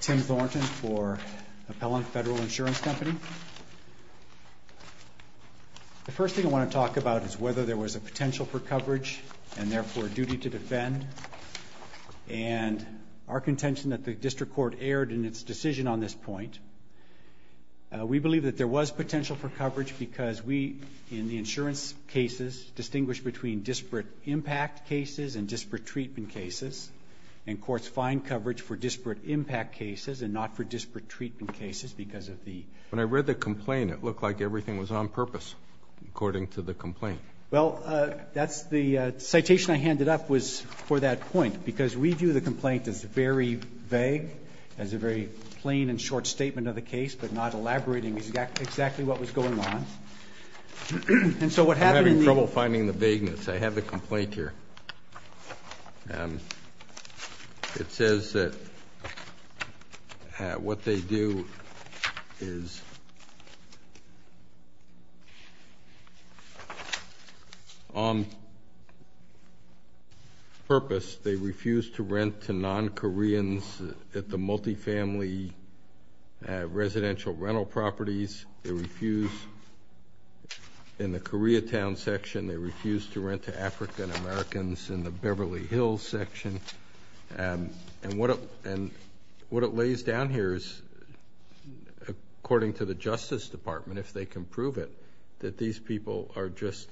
Tim Thornton for Appellant Federal Insurance Company. The first thing I want to talk about is whether there was a potential for coverage and therefore duty to defend and our contention that the district court erred in its decision on this point. We believe that there was potential for coverage because we in the insurance cases distinguish between disparate impact cases and disparate treatment cases and courts find coverage for disparate impact cases and not for disparate treatment cases because of the... When I read the complaint it looked like everything was on purpose according to the complaint. Well that's the citation I handed up was for that point because we view the complaint as very vague as a very plain and short statement of the case but not elaborating exactly what was going on and so what happened... I'm having trouble finding the vagueness. I have the it says that what they do is on purpose they refuse to rent to non-koreans at the multifamily residential rental properties. They refuse in the Koreatown section. They refuse to rent to African-Americans in the Beverly Hills section and what it lays down here is according to the Justice Department if they can prove it that these people are just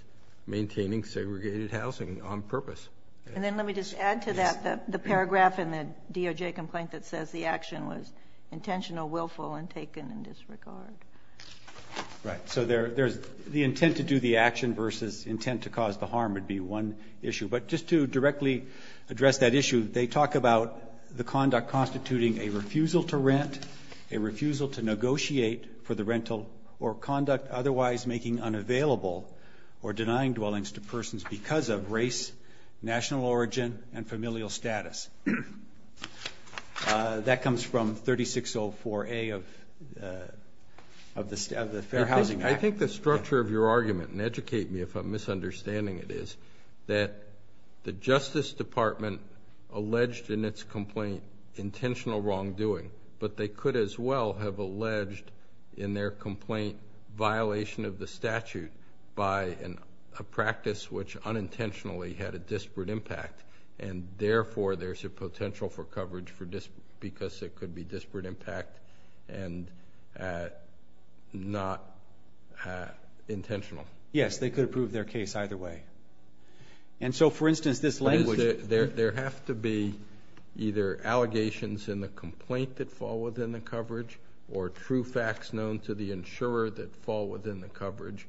maintaining segregated housing on purpose. And then let me just add to that the paragraph in the DOJ complaint that says the action was intentional willful and taken in intent to cause the harm would be one issue but just to directly address that issue they talk about the conduct constituting a refusal to rent, a refusal to negotiate for the rental or conduct otherwise making unavailable or denying dwellings to persons because of race, national origin and familial status. That comes from 3604A of the Fair Housing Act. I think the structure of your misunderstanding it is that the Justice Department alleged in its complaint intentional wrongdoing but they could as well have alleged in their complaint violation of the statute by a practice which unintentionally had a disparate impact and therefore there's a potential for coverage for this because it could be disparate impact and not intentional. Yes they could prove their case either way and so for instance this language. There have to be either allegations in the complaint that fall within the coverage or true facts known to the insurer that fall within the coverage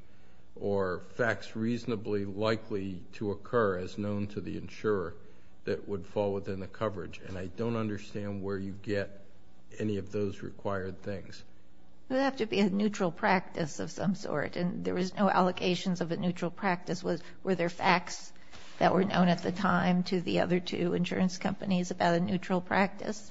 or facts reasonably likely to occur as known to the insurer that would fall within the coverage and I don't understand where you get any of those required things. It would have to be a neutral practice of some sort and there was no allocations of a neutral practice. Were there facts that were known at the time to the other two insurance companies about a neutral practice?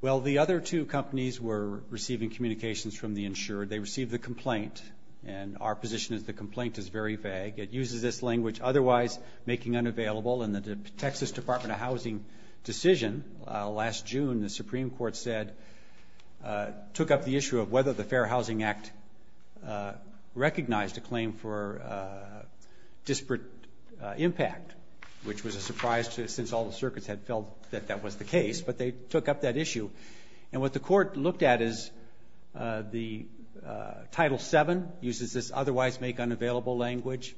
Well the other two companies were receiving communications from the insurer. They received the complaint and our position is the complaint is very vague. It uses this language otherwise making unavailable and the Texas Department of Housing decision last June the Supreme Court said took up the issue of whether the Fair Housing Act recognized a claim for disparate impact which was a surprise to since all the circuits had felt that that was the case but they took up that issue and what the court looked at is the title 7 uses this otherwise make unavailable language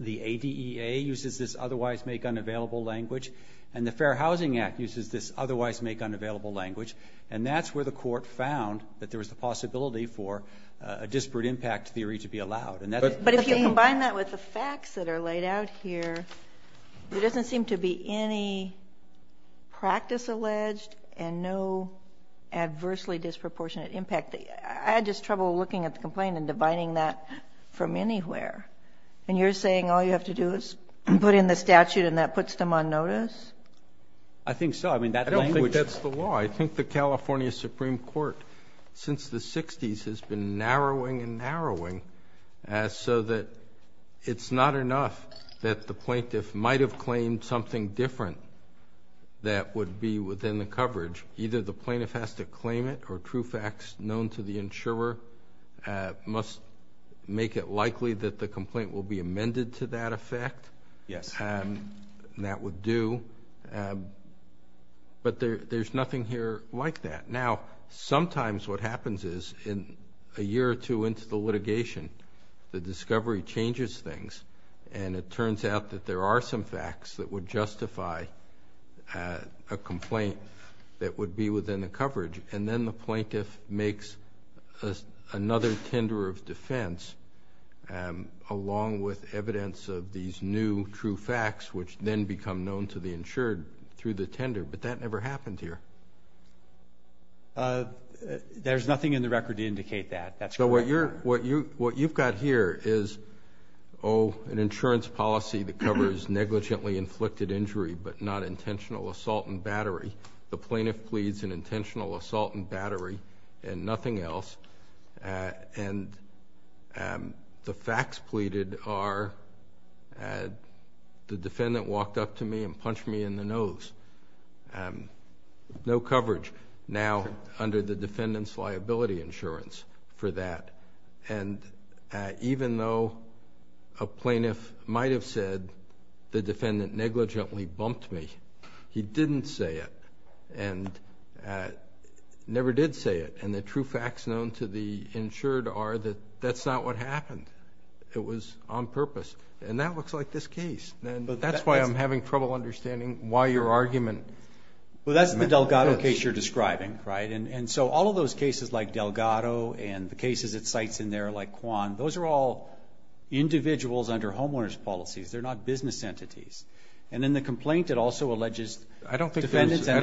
the ADEA uses this otherwise make unavailable language and the Fair Housing Act uses this otherwise make unavailable language and that's where the court found that there was the possibility for a disparate impact theory to be allowed and that's but if you combine that with the facts that are laid out here there doesn't seem to be any practice alleged and no adversely disproportionate impact. I had just trouble looking at the complaint and dividing that from anywhere and you're saying all you have to do is put in the statute and that puts them on notice? I think so I mean that's the law I think the California Supreme Court since the 60s has been narrowing and narrowing as so that it's not enough that the plaintiff might have claimed something different that would be within the coverage either the plaintiff has to claim it or true facts known to the insurer must make it likely that the complaint will be amended to that effect yes and that would do but there's nothing here like that now sometimes what happens is in a year or two into the litigation the discovery changes things and it turns out that there are some facts that would justify a complaint that would be within the coverage and then the plaintiff makes another tender of defense along with evidence of these new true facts which then become known to the insured through the tender but that never happened here there's nothing in the record to indicate that that's what you're what you what you've got here is oh an insurance policy that covers negligently inflicted injury but not intentional assault and battery the nothing else and the facts pleaded are the defendant walked up to me and punched me in the nose and no coverage now under the defendant's liability insurance for that and even though a plaintiff might have said the defendant negligently bumped me he didn't say it and never did say it and the true facts known to the insured are that that's not what happened it was on purpose and that looks like this case but that's why I'm having trouble understanding why your argument well that's the Delgado case you're describing right and and so all of those cases like Delgado and the cases it cites in there like Juan those are all individuals under homeowners policies they're not business entities and in the complaint it also alleges I don't think I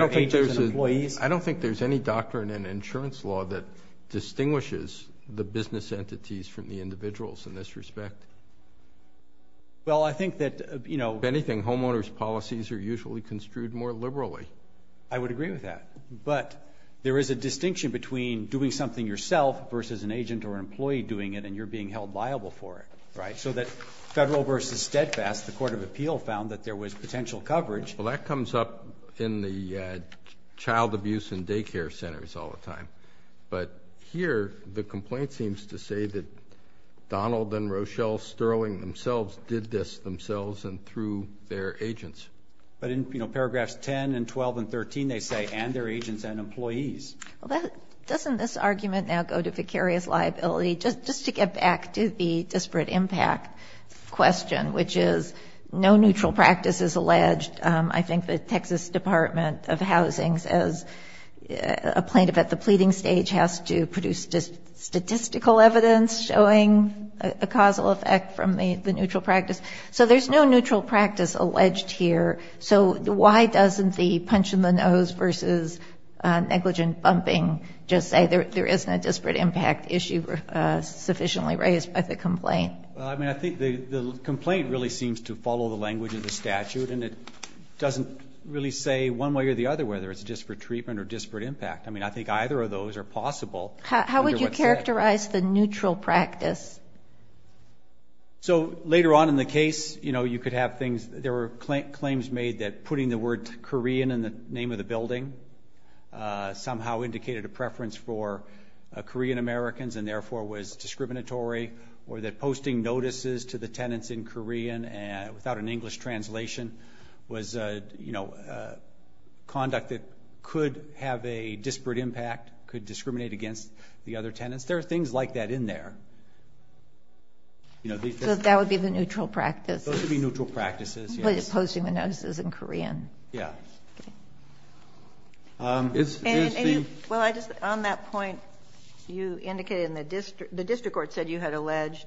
don't think there's any doctrine in insurance law that distinguishes the business entities from the individuals in this respect well I think that you know anything homeowners policies are usually construed more liberally I would agree with that but there is a distinction between doing something yourself versus an agent or liable for it right so that federal versus steadfast the Court of Appeal found that there was potential coverage well that comes up in the child abuse and daycare centers all the time but here the complaint seems to say that Donald and Rochelle Sterling themselves did this themselves and through their agents but in you know paragraphs 10 and 12 and 13 they say and their agents and employees well that doesn't this argument now go to vicarious liability just just to get back to the disparate impact question which is no neutral practice is alleged I think the Texas Department of Housing's as a plaintiff at the pleading stage has to produce just statistical evidence showing a causal effect from the the neutral practice so there's no neutral practice alleged here so why doesn't the punch in the nose versus negligent bumping just say there isn't a disparate impact issue sufficiently raised by the complaint I mean I think the complaint really seems to follow the language of the statute and it doesn't really say one way or the other whether it's just for treatment or disparate impact I mean I think either of those are possible how would you characterize the neutral practice so later on in the case you know you could have things there were claims made that putting the word Korean in the name of building somehow indicated a preference for Korean Americans and therefore was discriminatory or that posting notices to the tenants in Korean and without an English translation was you know conduct that could have a disparate impact could discriminate against the other tenants there are things like that in there you know that would be the neutral practice those would be neutral practices posting the notices in Korean yeah well I just on that point you indicated in the district the district court said you had alleged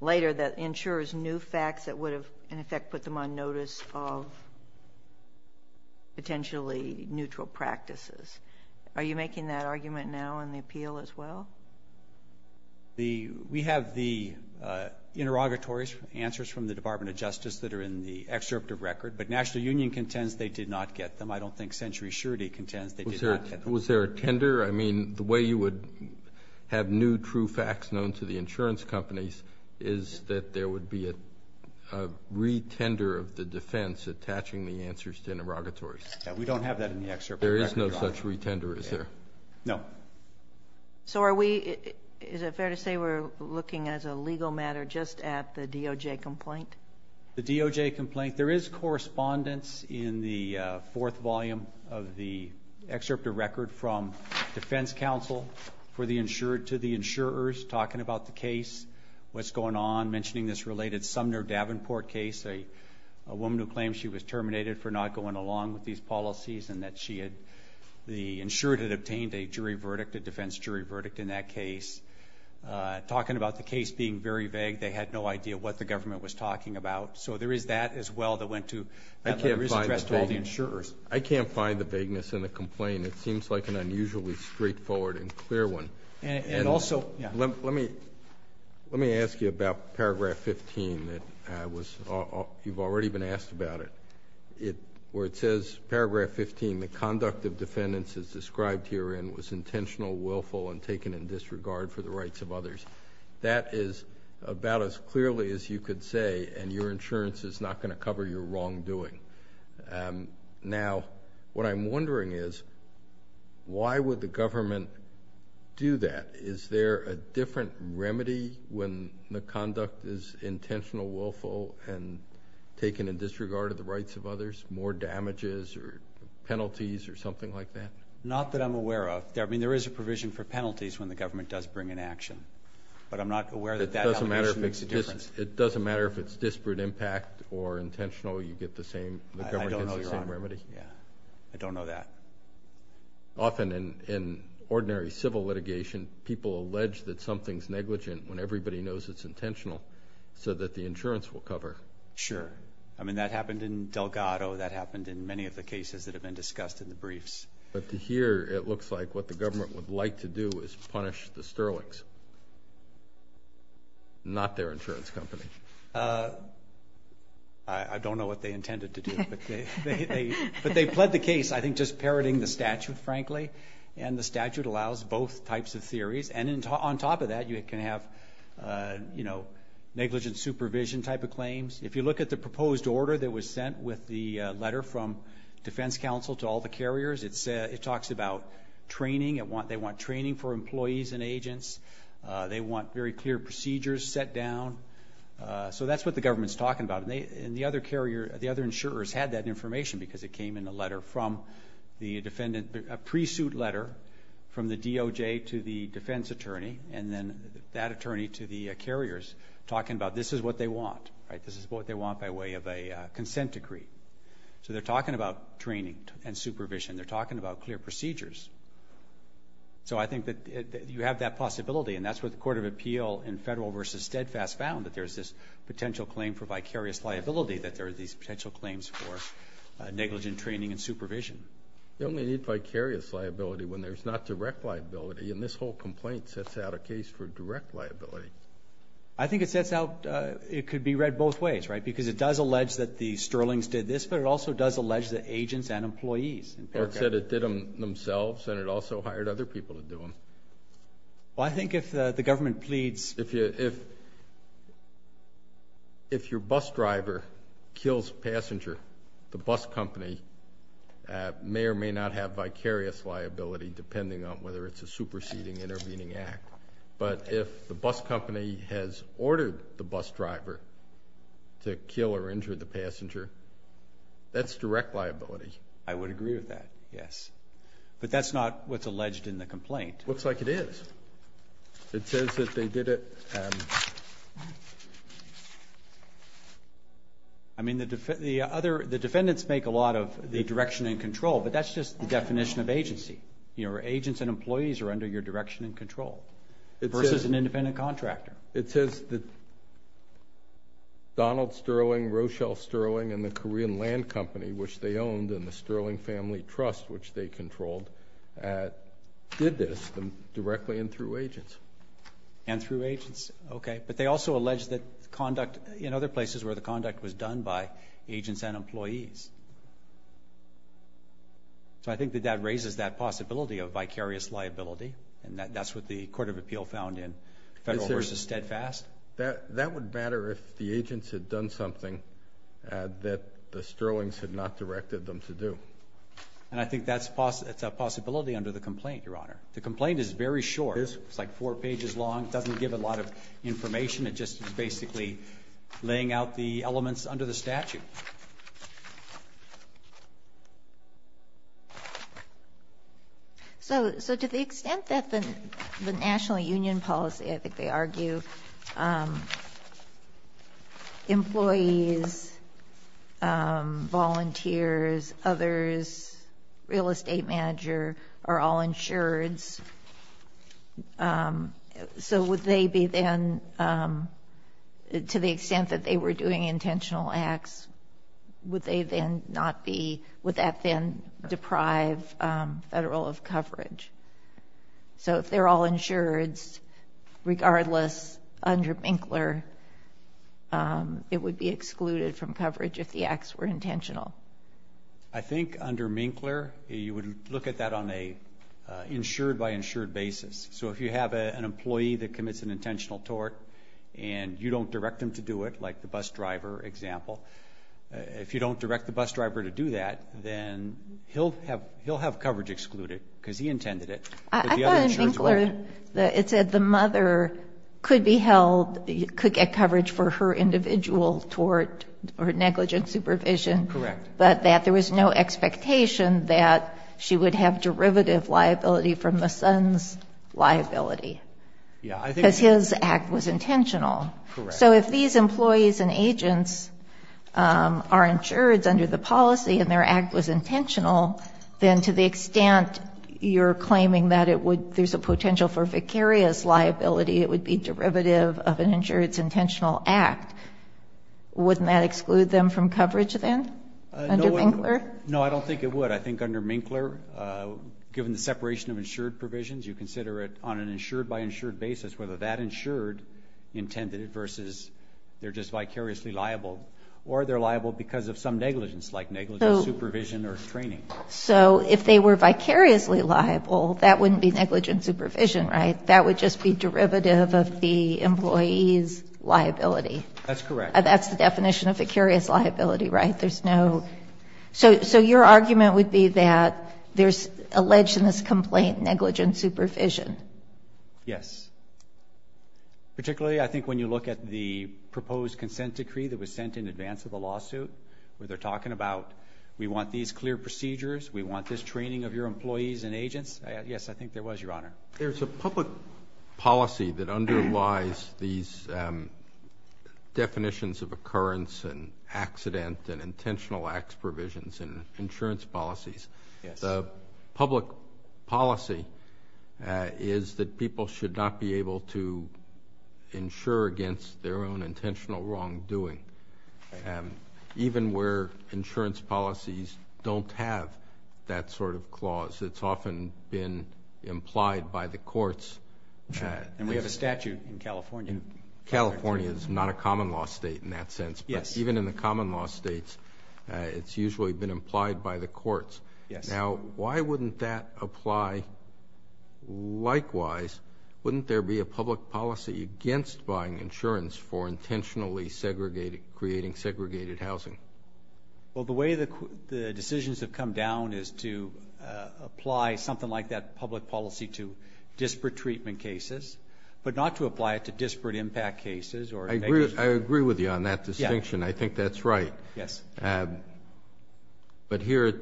later that ensures new facts that would have in effect put them on notice of potentially neutral practices are you making that argument now in the appeal as well the we have the interrogatories answers from the Department of Justice that are in the excerpt of record but National Union contends they did not get them I don't think century surety contends that was there was there a tender I mean the way you would have new true facts known to the insurance companies is that there would be a retender of the defense attaching the answers to interrogatories we don't have that in the excerpt there is no such retender is there no so are we is it fair to say we're looking as a legal matter just at the DOJ complaint the DOJ complaint there is correspondence in the fourth volume of the excerpt of record from Defense Council for the insured to the insurers talking about the case what's going on mentioning this related Sumner Davenport case a woman who claims she was terminated for not going along with these policies and that she had the insured had obtained a jury verdict a defense jury verdict in that case talking about the case being very vague they had no idea what the government was talking about so there is that as well that went to I can't rest all the insurers I can't find the vagueness in the complaint it seems like an unusually straightforward and clear one and also let me let me ask you about paragraph 15 that I was you've already been asked about it it where it says paragraph 15 the conduct of defendants is described herein was intentional willful and taken in disregard for the rights of others that is about as clearly as you could say and your insurance is not going to cover your wrongdoing now what I'm wondering is why would the government do that is there a different remedy when the conduct is intentional willful and taken in disregard of the rights of others more damages or penalties or something like that not that I'm aware of there I mean there is a provision for action but I'm not aware that doesn't matter if it's a difference it doesn't matter if it's disparate impact or intentional you get the same remedy yeah I don't know that often in in ordinary civil litigation people allege that something's negligent when everybody knows it's intentional so that the insurance will cover sure I mean that happened in Delgado that happened in many of the cases that have been discussed in the briefs but to hear it like to do is punish the Sterling's not their insurance company I don't know what they intended to do but they but they pled the case I think just parroting the statute frankly and the statute allows both types of theories and in on top of that you can have you know negligent supervision type of claims if you look at the proposed order that was sent with the letter from Defense Counsel to all the carriers it said it talks about training at want they want training for employees and agents they want very clear procedures set down so that's what the government's talking about they and the other carrier the other insurers had that information because it came in a letter from the defendant a pre-suit letter from the DOJ to the defense attorney and then that attorney to the carriers talking about this is what they want right this is what they want by way of a consent decree so they're talking about training and supervision they're talking about clear procedures so I think that you have that possibility and that's what the Court of Appeal in federal versus steadfast found that there's this potential claim for vicarious liability that there are these potential claims for negligent training and supervision the only need vicarious liability when there's not direct liability and this whole complaint sets out a case for direct liability I think it sets out it could be read both ways right because it does allege that the agents and employees said it did them themselves and it also hired other people to do them well I think if the government pleads if you if if your bus driver kills passenger the bus company may or may not have vicarious liability depending on whether it's a superseding intervening act but if the bus company has ordered the bus driver to kill or injure the passenger that's direct liability I would agree with that yes but that's not what's alleged in the complaint looks like it is it says that they did it I mean the other the defendants make a lot of the direction and control but that's just the definition of agency your agents and employees are under your direction and control it's just an independent contractor it says that Donald Sterling Rochelle Sterling and the Korean Land Company which they owned and the Sterling Family Trust which they controlled did this them directly and through agents and through agents okay but they also allege that conduct in other places where the conduct was done by agents and employees so I think that that raises that possibility of vicarious liability and that that's what the Court of Appeal found in federal versus steadfast that that would matter if the agents had done something that the Sterling's had not directed them to do and I think that's possible it's a possibility under the complaint your honor the complaint is very short it's like four pages long doesn't give a lot of information it just basically laying out the elements under the statute so so the extent that the National Union policy I think they argue employees volunteers others real estate manager are all insured so would they be then to the extent that they were doing intentional acts would they then not be would that then deprive federal of coverage so if they're all insured regardless under Minkler it would be excluded from coverage if the acts were intentional I think under Minkler you would look at that on a insured by insured basis so if you have an employee that commits an intentional tort and you don't direct them to do it like the bus driver example if you don't direct the then he'll have he'll have coverage excluded because he intended it it said the mother could be held you could get coverage for her individual tort or negligent supervision correct but that there was no expectation that she would have derivative liability from the son's liability yeah I think his act was intentional so if these employees and agents are insured under the policy and their act was intentional then to the extent you're claiming that it would there's a potential for vicarious liability it would be derivative of an insurance intentional act wouldn't that exclude them from coverage then no I don't think it would I think under Minkler given the separation of insured provisions you consider it on an insured by insured basis whether that insured intended it versus they're just vicariously liable or they're liable because of some negligence like negligent supervision or training so if they were vicariously liable that wouldn't be negligent supervision right that would just be derivative of the employees liability that's correct that's the definition of a curious liability right there's no so so your argument would be that there's alleged in this complaint negligent supervision yes particularly I think when you look at the proposed consent decree that was sent in advance of the lawsuit where they're talking about we want these clear procedures we want this training of your employees and agents yes I think there was your honor there's a public policy that underlies these definitions of occurrence and accident and intentional acts provisions and insurance policies the public policy is that people should not be able to insure against their own intentional wrongdoing even where insurance policies don't have that sort of clause it's often been implied by the courts and we have a statute in California California is not a common-law state in that sense yes even in the common-law states it's usually been implied by the courts yes now why wouldn't that apply likewise wouldn't there be a public policy against buying insurance for intentionally segregated creating segregated housing well the way the decisions have come down is to apply something like that public policy to disparate treatment cases but not to apply it to disparate impact cases or I agree with you on that distinction I think that's right yes but here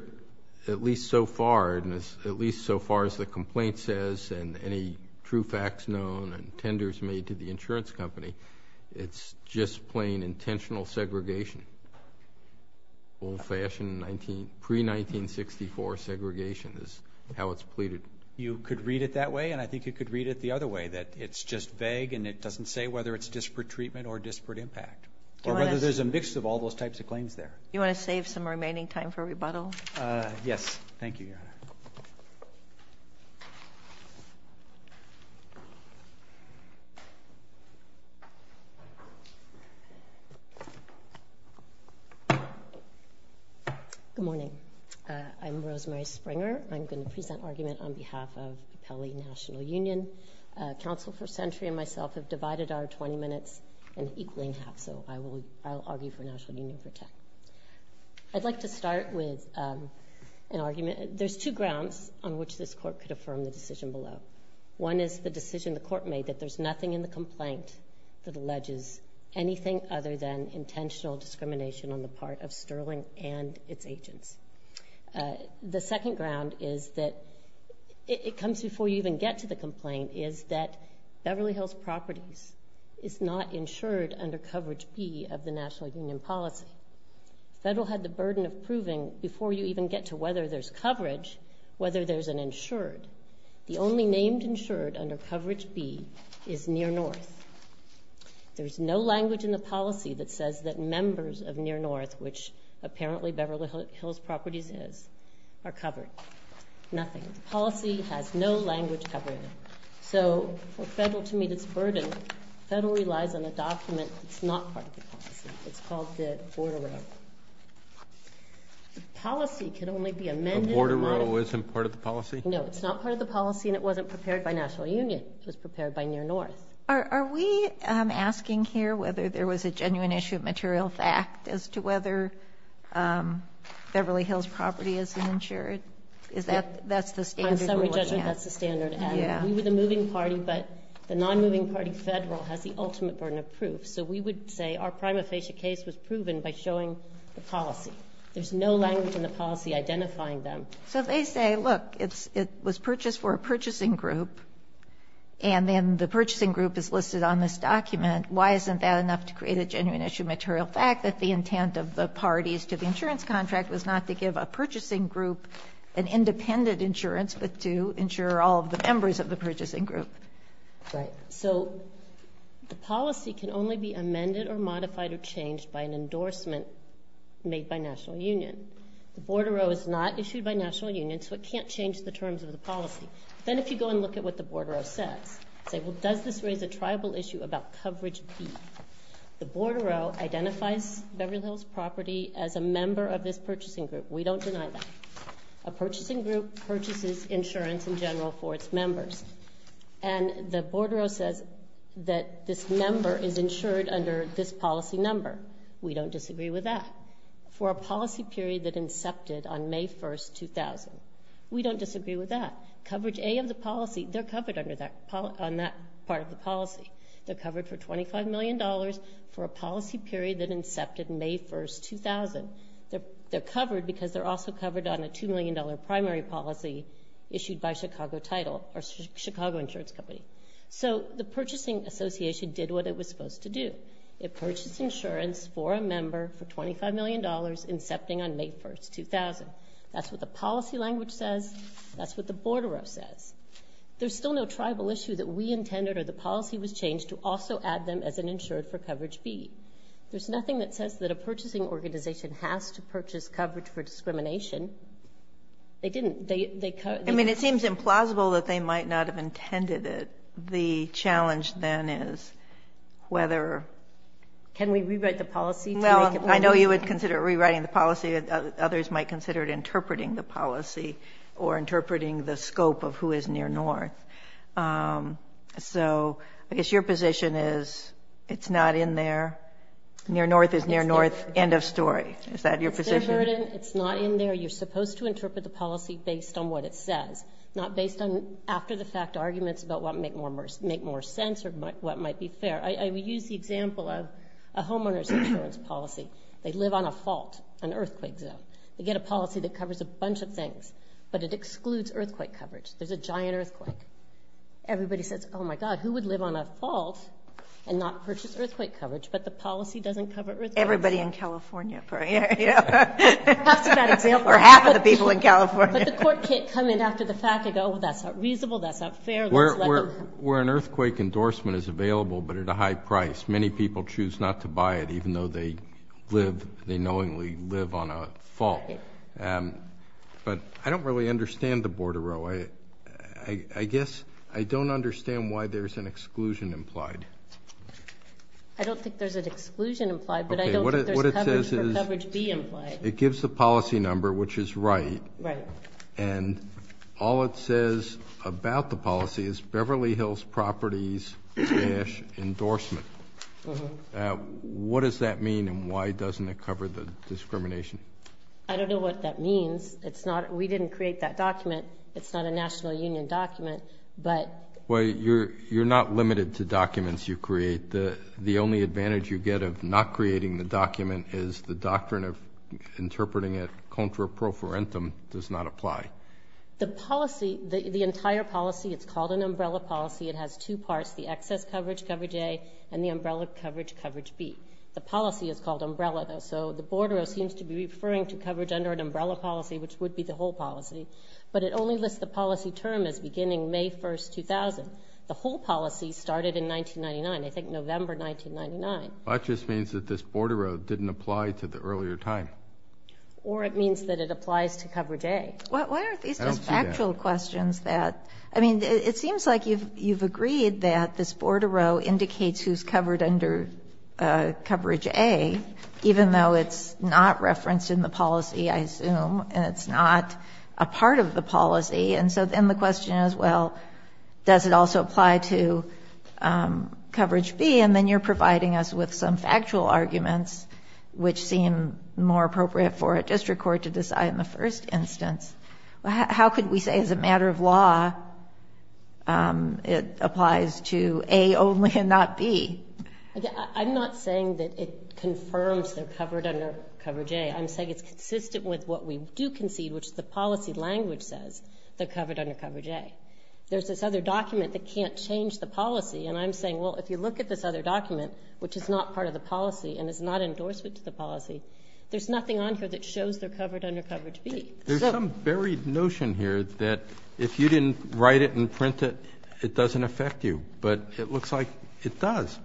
at least so far and as at least so far as the complaint says and any true facts known and tenders made to the insurance company it's just plain intentional segregation old-fashioned 19 pre 1964 segregation is how it's pleaded you could read it that way and I think you could read it the other way that it's just vague and it doesn't say whether it's disparate treatment or disparate impact or whether there's a mix of all those types of claims there you want to save some remaining time for rebuttal yes thank you good morning I'm Rosemary Springer I'm going to present argument on behalf of Pele National Union Council for century and myself have divided our 20 minutes and equaling half so I will argue for National Union for tech I'd like to there's two grounds on which this court could affirm the decision below one is the decision the court made that there's nothing in the complaint that alleges anything other than intentional discrimination on the part of sterling and its agents the second ground is that it comes before you even get to the complaint is that Beverly Hills properties is not insured under coverage be of the National Union policy federal had the burden of proving before you even get to whether there's coverage whether there's an insured the only named insured under coverage B is near north there's no language in the policy that says that members of near north which apparently Beverly Hills properties is are covered nothing policy has no language covering so federal to meet its burden federal relies on a document it's not part of the policy it's called the border policy can only be amended order row isn't part of the policy no it's not part of the policy and it wasn't prepared by National Union was prepared by near north are we asking here whether there was a genuine issue of material fact as to whether Beverly Hills property isn't insured is that that's the standard that's the standard yeah we were the moving party but the non-moving party federal has the ultimate burden of proof so we would say our prima facie case was proven by showing the policy there's no language in the policy identifying them so they say look it's it was purchased for a purchasing group and then the purchasing group is listed on this document why isn't that enough to create a genuine issue material fact that the intent of the parties to the insurance contract was not to give a purchasing group an independent insurance but to ensure all of the members of the purchasing group right so the policy can only be amended or modified or changed by an endorsement made by National Union the border row is not issued by National Union so it can't change the terms of the policy then if you go and look at what the border of sex say well does this raise a tribal issue about coverage the border row identifies Beverly Hills property as a member of this purchasing group we don't deny that a purchasing group purchases insurance in general for its members and the border says that this number is insured under this policy number we don't disagree with that for a policy period that incepted on May 1st 2000 we don't disagree with that coverage a of the policy they're covered under that part of the policy the cover for 25 million dollars for a policy period that incepted May 1st 2000 they're covered because they're also covered on a two million dollar primary policy issued by Chicago title or Chicago insurance company so the purchasing Association did what it was supposed to do it purchased insurance for a member for 25 million dollars incepting on May 1st 2000 that's what the policy language says that's what the border of says there's still no tribal issue that we intended or the policy was changed to also add them as an insured for coverage be there's nothing that says that a purchasing organization has to purchase coverage for discrimination they didn't I mean it seems implausible that they might not have intended it the challenge then is whether can we rewrite the policy well I know you would consider rewriting the policy others might consider it interpreting the policy or interpreting the scope of who is near north so I guess your position is it's not in there near north is near north end of story is that your position it's not in there you're supposed to interpret the policy based on what it says not based on after-the-fact arguments about what make more make more sense or what might be fair I use the example of a homeowner's insurance policy they live on a fault an earthquake zone they get a policy that covers a bunch of things but it excludes earthquake coverage there's a giant earthquake everybody says oh my god who would live on a fault and not purchase earthquake coverage but the policy doesn't cover everybody in California example or half of the people in California but the court can't come in after the fact ago well that's not reasonable that's not fair we're we're an earthquake endorsement is available but at a high price many people choose not to buy it even though they live they knowingly live on a fault but I don't really understand the border row I I guess I don't understand why there's an exclusion implied I don't think there's an exclusion implied but I don't what it it gives the policy number which is right and all it says about the policy is Beverly Hills properties endorsement what does that mean and why doesn't it cover the discrimination I don't know what that means it's not we didn't create that document it's not a National Union document but well you're you're not limited to documents you create the the only advantage you get of not creating the document is the doctrine of interpreting it contra pro forensic does not apply the policy the entire policy it's called an umbrella policy it has two parts the excess coverage coverage a and the umbrella coverage coverage B the policy is called umbrella though so the border oh seems to be referring to coverage under an umbrella policy which would be the whole policy but it only lists the policy term is beginning May 1st 2000 the whole policy started in 1999 I think November 1999 I just means that this border road didn't apply to the earlier time or it means that it applies to coverage a well why aren't these factual questions that I mean it seems like you've you've agreed that this border row indicates who's covered under coverage a even though it's not referenced in the policy I assume and it's not a part of the policy and so then the question is well does it also apply to coverage B and then you're providing us with some factual arguments which seem more appropriate for a district court to decide in the first instance how could we say as a matter of law it applies to a only and not be I'm not saying that it confirms they're covered under coverage a I'm saying it's consistent with what we do which the policy language says they're covered under coverage a there's this other document that can't change the policy and I'm saying well if you look at this other document which is not part of the policy and is not endorsement to the policy there's nothing on here that shows they're covered under coverage B there's some buried notion here that if you didn't write it and print it it doesn't affect you but it looks like it does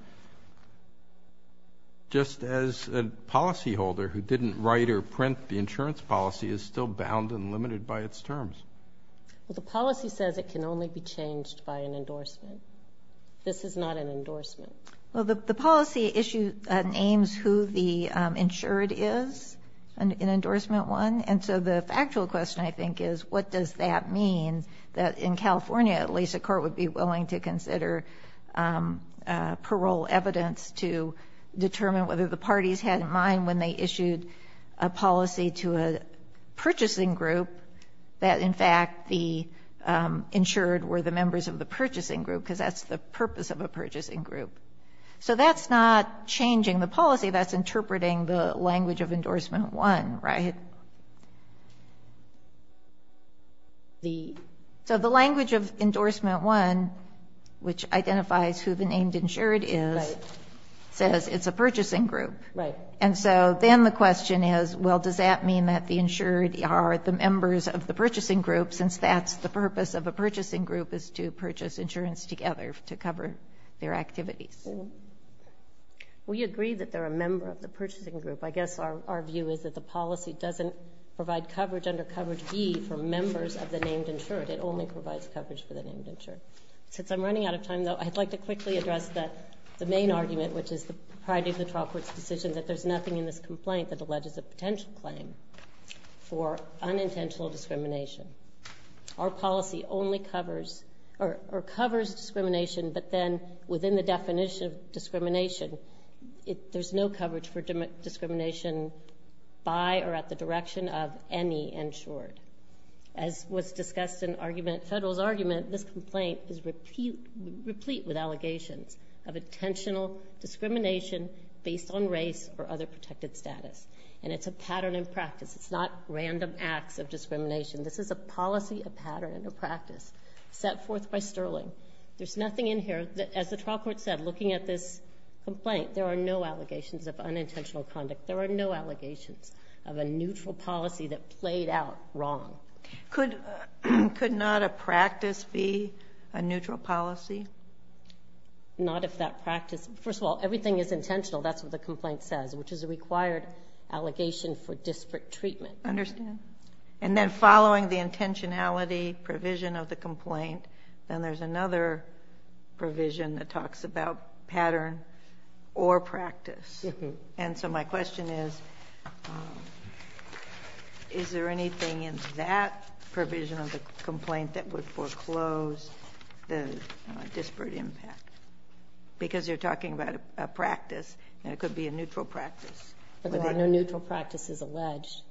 just as a policyholder who didn't write or print the insurance policy is still bound and limited by its terms the policy says it can only be changed by an endorsement this is not an endorsement well the policy issue names who the insured is an endorsement one and so the factual question I think is what does that mean that in California at least a court would be willing to consider parole evidence to determine whether the parties had in mind when they issued a policy to a purchasing group that in fact the insured were the members of the purchasing group because that's the purpose of a purchasing group so that's not changing the policy that's interpreting the language of endorsement one right the so the language of endorsement one which identifies who the named insured is says it's a purchasing group right and so then the question is well does that mean that the insured are the members of the purchasing group since that's the purpose of a purchasing group is to purchase insurance together to cover their activities we agree that they're a member of the purchasing group I guess our view is that the policy doesn't provide coverage under coverage B for members of the named insured it only provides coverage for the named insured since I'm running out of time though I'd like to quickly address that the main argument which is the priority of the trial court's decision that there's nothing in this complaint that alleges a potential claim for unintentional discrimination our policy only covers or covers discrimination but then within the definition of discrimination if there's no coverage for discrimination by or at the direction of any insured as was discussed in argument federal's argument this complaint is repeat replete with allegations of intentional discrimination based on race or other protected status and it's a pattern in practice it's not random acts of discrimination this is a policy a pattern and a practice set forth by Sterling there's nothing in here that as the trial court said looking at this complaint there are no allegations of unintentional conduct there are no allegations of a neutral policy that played out wrong could could not a practice be a neutral policy not if that practice first of all everything is intentional that's what the complaint says which is a required allegation for disparate treatment understand and then following the intentionality provision of the complaint then there's another provision that talks about pattern or practice and so my question is is there anything in that provision of the complaint that would foreclose the disparate impact because you're talking about a practice and it could be a neutral practice but there are no neutral practices alleged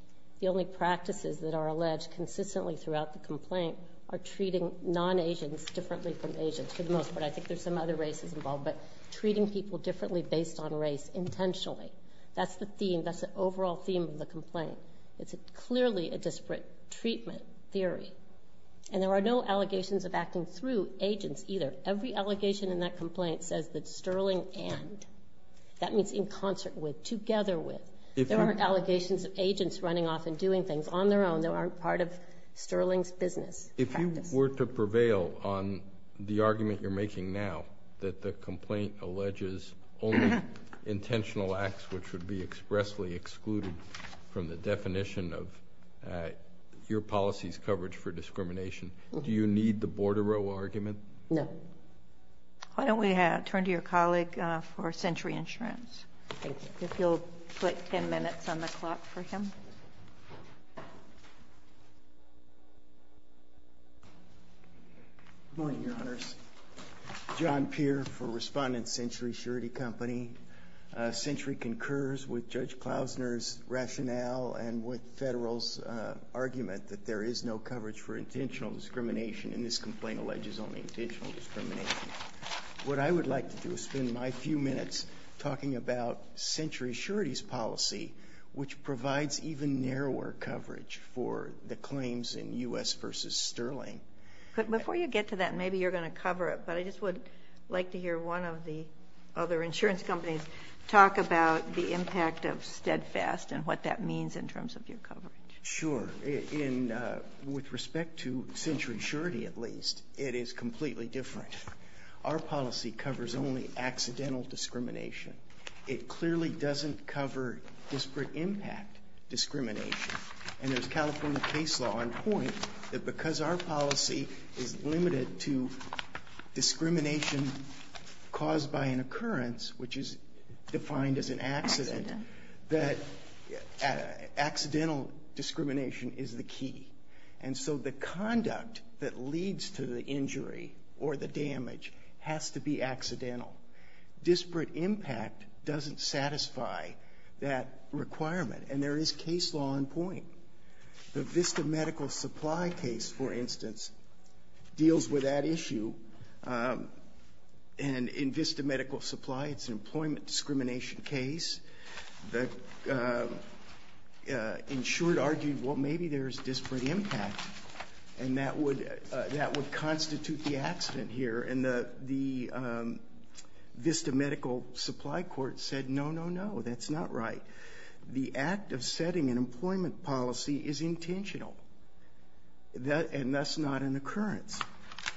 the only practices that are alleged consistently throughout the complaint are treating non-asians differently from Asians for the most part I think there's some other races involved but treating people differently based on race intentionally that's the theme that's an overall theme of the complaint it's a clearly a disparate treatment theory and there are no allegations of acting through agents either every allegation in that complaint says that Sterling and that means in concert with together with if there aren't allegations of agents running off and doing things on their own there aren't part of Sterling's business if you were to prevail on the argument you're making now that the complaint alleges only intentional acts which would be expressly excluded from the definition of your policies coverage for discrimination do you need the why don't we have turn to your colleague for century insurance if you'll click 10 minutes on the clock for him morning your honors John Pierre for respondent century surety company century concurs with judge Klausner's rationale and with federal's argument that there is no coverage for intentional discrimination in this complaint alleges only what I would like to do is spend my few minutes talking about century surety's policy which provides even narrower coverage for the claims in u.s. versus sterling but before you get to that maybe you're going to cover it but I just would like to hear one of the other insurance companies talk about the impact of steadfast and what that means in terms of your coverage sure in with respect to century surety at least it is completely different our policy covers only accidental discrimination it clearly doesn't cover disparate impact discrimination and there's California case law on point that because our policy is limited to discrimination caused by an occurrence which is defined as an accident that accidental discrimination is the key and so the conduct that leads to the injury or the damage has to be accidental disparate impact doesn't satisfy that requirement and there is case law on point the Vista medical supply case for instance deals with that issue and in Vista medical supply it's an employment discrimination case the insured argued what maybe there's disparate impact and that would that would constitute the accident here and the the Vista medical supply court said no no no that's not right the act of setting an employment policy is intentional that and that's not an occurrence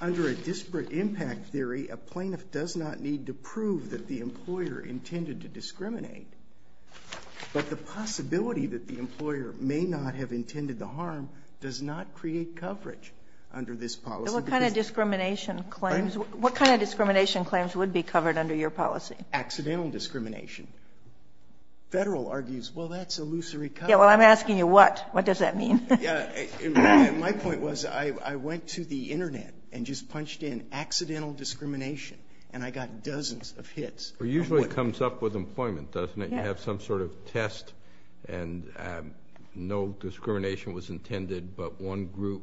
under a disparate impact theory a plaintiff does not need to prove that the employer intended to discriminate but the possibility that the employer may not have intended the harm does not create coverage under this policy what kind of discrimination claims what kind of discrimination claims would be covered under your policy accidental discrimination federal argues well that's illusory yeah well I'm asking you what what does that mean yeah my point was I went to the internet and just punched in accidental discrimination and I got dozens of hits or usually comes up with employment doesn't it you have some sort of test and no discrimination was intended but one group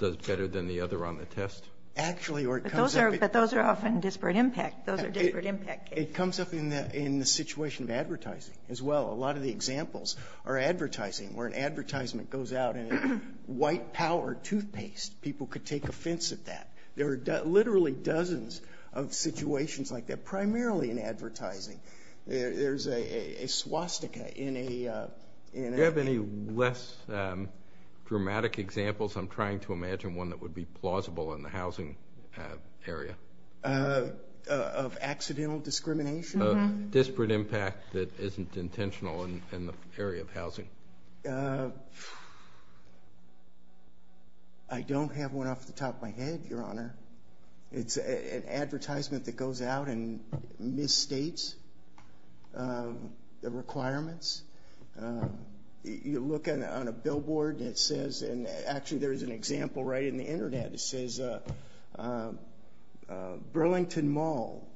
does better than the other on the test actually work those are but those are often disparate impact those are different impact it comes up in that in the situation of advertising as well a lot of the examples are advertising where an advertisement goes out and white power toothpaste people could take offense at that there are literally dozens of situations like that primarily in advertising there's a swastika in a have any less dramatic examples I'm trying to imagine one that would be plausible in the housing area of accidental discrimination disparate impact that isn't intentional in the area of housing I don't have one off the top of my head your honor it's an advertisement that goes out and misstates the requirements you look at on a billboard it says and actually there's an example right in the internet says Burlington mall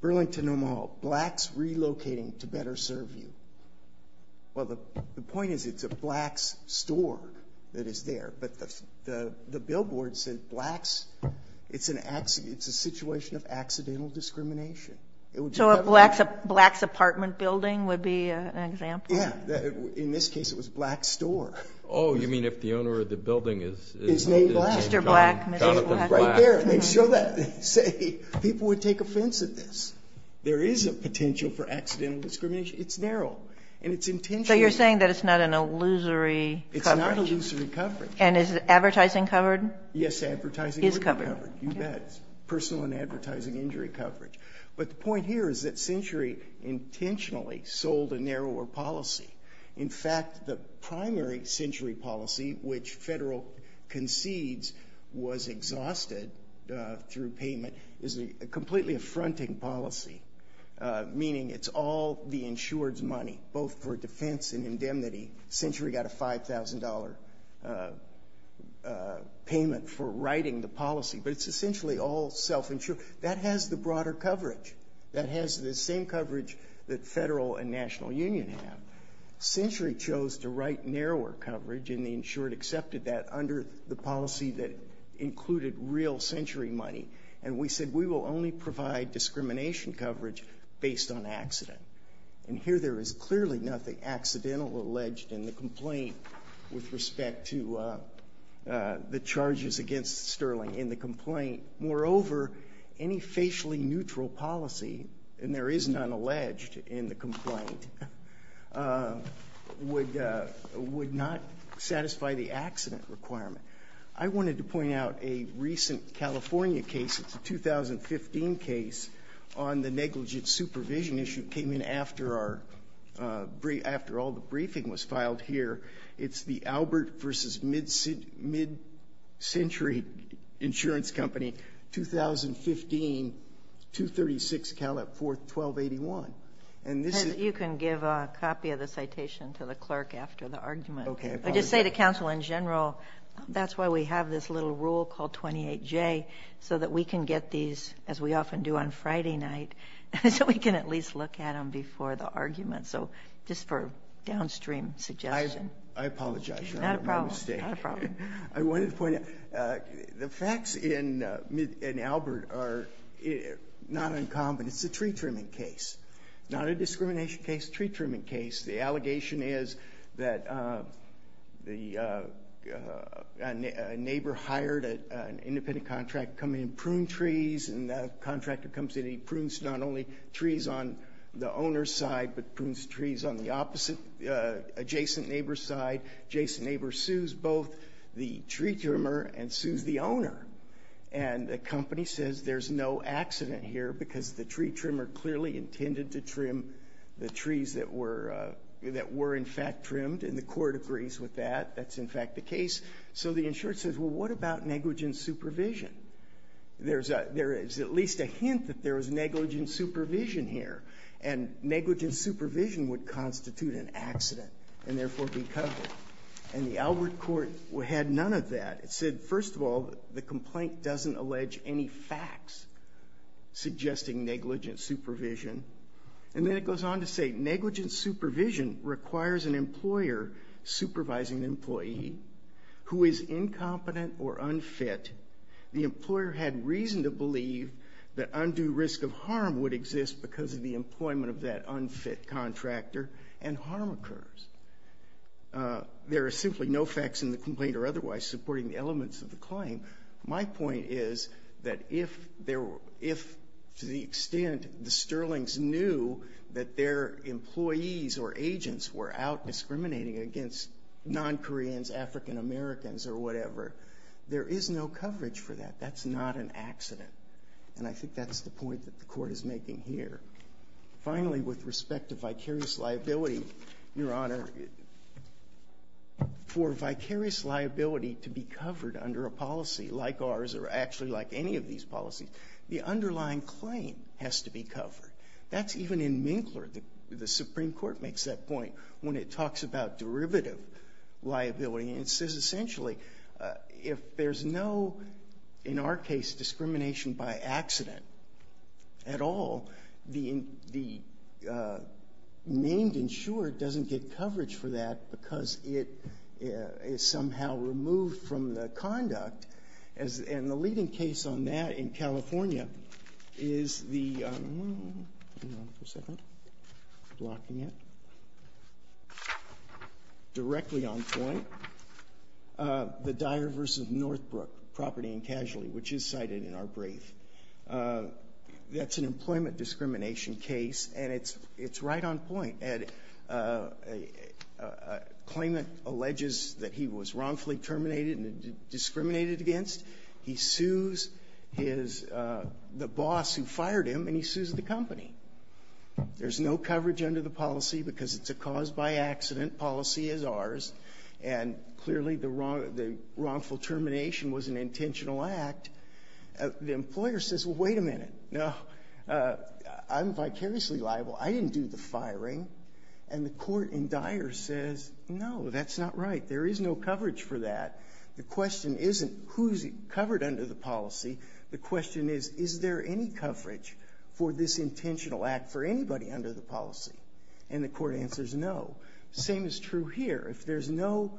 Burlington mall blacks relocating to better serve you well the point is it's a blacks store that is there but the the billboard said blacks it's an accident it's a situation of accidental discrimination it would so a blacks a blacks apartment building would be an example in this case it was the owner of the building is there is a potential for accidental discrimination it's narrow and it's intentional you're saying that it's not an illusory it's not illusory coverage and is it advertising covered yes advertising is covered personal and advertising injury coverage but the point here is that century intentionally sold a narrower policy in fact the primary century policy which federal concedes was exhausted through payment is a completely affronting policy meaning it's all the insureds money both for defense and indemnity century got a $5,000 payment for writing the policy but it's essentially all self-insured that has the broader coverage that has the same coverage that federal and National Union have century chose to coverage in the insured accepted that under the policy that included real century money and we said we will only provide discrimination coverage based on accident and here there is clearly nothing accidental alleged in the complaint with respect to the charges against Sterling in the complaint moreover any facially neutral policy and there is none alleged in the complaint would would not satisfy the accident requirement I wanted to point out a recent California case it's a 2015 case on the negligent supervision issue came in after our brief after all the briefing was filed here it's the Albert versus mid city mid century insurance company 2015 to 36 Caleb for 1281 and this is you can give a copy of the citation to the clerk after the argument okay I just say to counsel in general that's why we have this little rule called 28 J so that we can get these as we often do on Friday night so we can at least look at them before the argument so just for downstream suggestion I apologize I wanted to point out the facts in mid and Albert are it not it's a tree trimming case not a discrimination case tree trimming case the allegation is that the neighbor hired an independent contractor coming in prune trees and the contractor comes in he prunes not only trees on the owner's side but prunes trees on the opposite adjacent neighbor's side Jason neighbor sues both the tree trimmer and sues the owner and the company says there's no accident here because the tree trimmer clearly intended to trim the trees that were that were in fact trimmed in the court agrees with that that's in fact the case so the insurance says well what about negligent supervision there's a there is at least a hint that there was negligent supervision here and negligent supervision would constitute an accident and therefore be covered and the Albert court we had none of that it said first of all the complaint doesn't allege any facts suggesting negligent supervision and then it goes on to say negligent supervision requires an employer supervising an employee who is incompetent or unfit the employer had reason to believe that undue risk of harm would exist because of the employment of that unfit contractor and harm occurs there are simply no facts in the complaint or otherwise supporting the elements of the claim my point is that if there were if to the extent the Sterling's knew that their employees or agents were out discriminating against non-koreans african-americans or whatever there is no coverage for that that's not an accident and I think that's the point that the court is making here finally with respect to vicarious liability your for vicarious liability to be covered under a policy like ours are actually like any of these policies the underlying claim has to be covered that's even in minkler the Supreme Court makes that point when it talks about derivative liability and says essentially if there's no in our case discrimination by because it is somehow removed from the conduct and the leading case on that in california is the directly on the diverse of northbrook property and casualty which is cited in our brief that's an employment discrimination case and it's it's right on point and a claim that alleges that he was wrongfully terminated and discriminated against he sues his the boss who fired him and he sues the company there's no coverage under the policy because it's a caused by accident policy is ours and clearly the wrong the wrongful termination was an intentional act the employer says well wait a minute no I'm vicariously liable I didn't do the hiring and the court in dire says no that's not right there is no coverage for that the question isn't who's covered under the policy the question is is there any coverage for this intentional act for anybody under the policy and the court answers no same is true here if there's no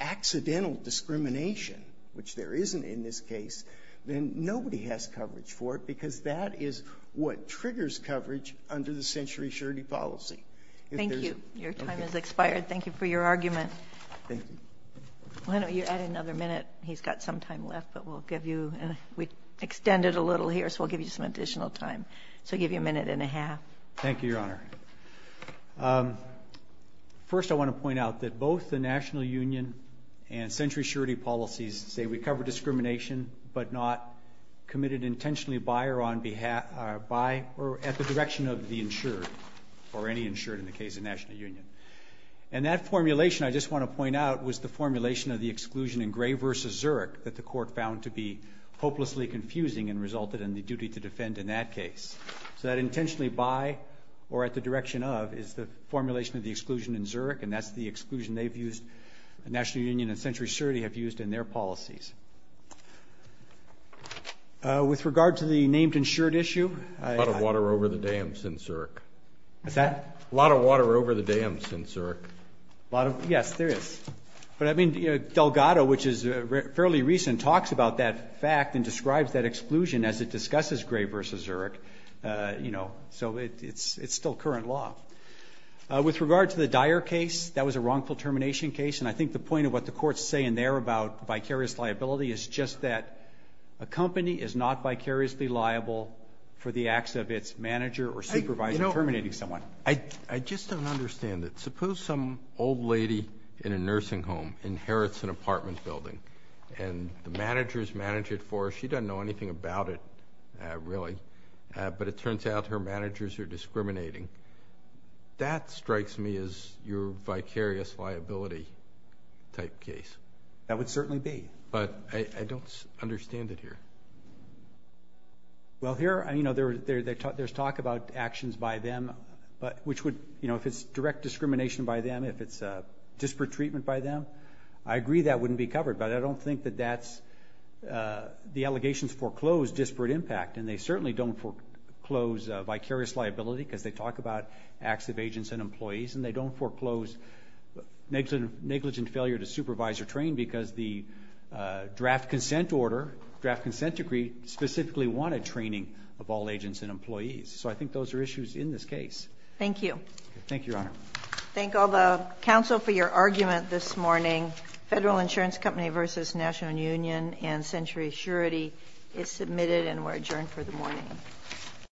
accidental discrimination which there isn't in this case then nobody has coverage for it that is what triggers coverage under the century surety policy thank you your time is expired thank you for your argument I know you had another minute he's got some time left but we'll give you and we extended a little here so we'll give you some additional time so give you a minute and a half thank you your honor first I want to point out that both the National Union and century surety policies say we cover discrimination but not committed intentionally buyer on behalf by or at the direction of the insured or any insured in the case of National Union and that formulation I just want to point out was the formulation of the exclusion in gray versus Zurich that the court found to be hopelessly confusing and resulted in the duty to defend in that case so that intentionally by or at the direction of is the formulation of the exclusion in Zurich and that's the exclusion they've used the National Union and century surety have used in their policies with regard to the named insured issue a lot of water over the dams in Zurich is that a lot of water over the dams in Zurich a lot of yes there is but I mean Delgado which is fairly recent talks about that fact and describes that exclusion as it discusses gray versus Eric you know so it's it's still current law with regard to the dire case that was a wrongful termination case and I think the point of what the courts say in there about vicarious liability is just that a company is not vicariously liable for the acts of its manager or supervisor terminating someone I I just don't understand it suppose some old lady in a nursing home inherits an apartment building and the managers manage it for she doesn't know anything about it really but it turns out her managers are that would certainly be but I don't understand it here well here I mean other there's talk about actions by them but which would you know if it's direct discrimination by them if it's a disparate treatment by them I agree that wouldn't be covered but I don't think that that's the allegations foreclosed disparate impact and they certainly don't foreclose vicarious liability because they talk about acts of agents and employees and they don't foreclose negligent negligent failure to supervise or train because the draft consent order draft consent decree specifically wanted training of all agents and employees so I think those are issues in this case. Thank you. Thank you your honor. Thank all the council for your argument this morning. Federal Insurance Company versus National Union and Century Assurity is submitted and we're adjourned for the morning.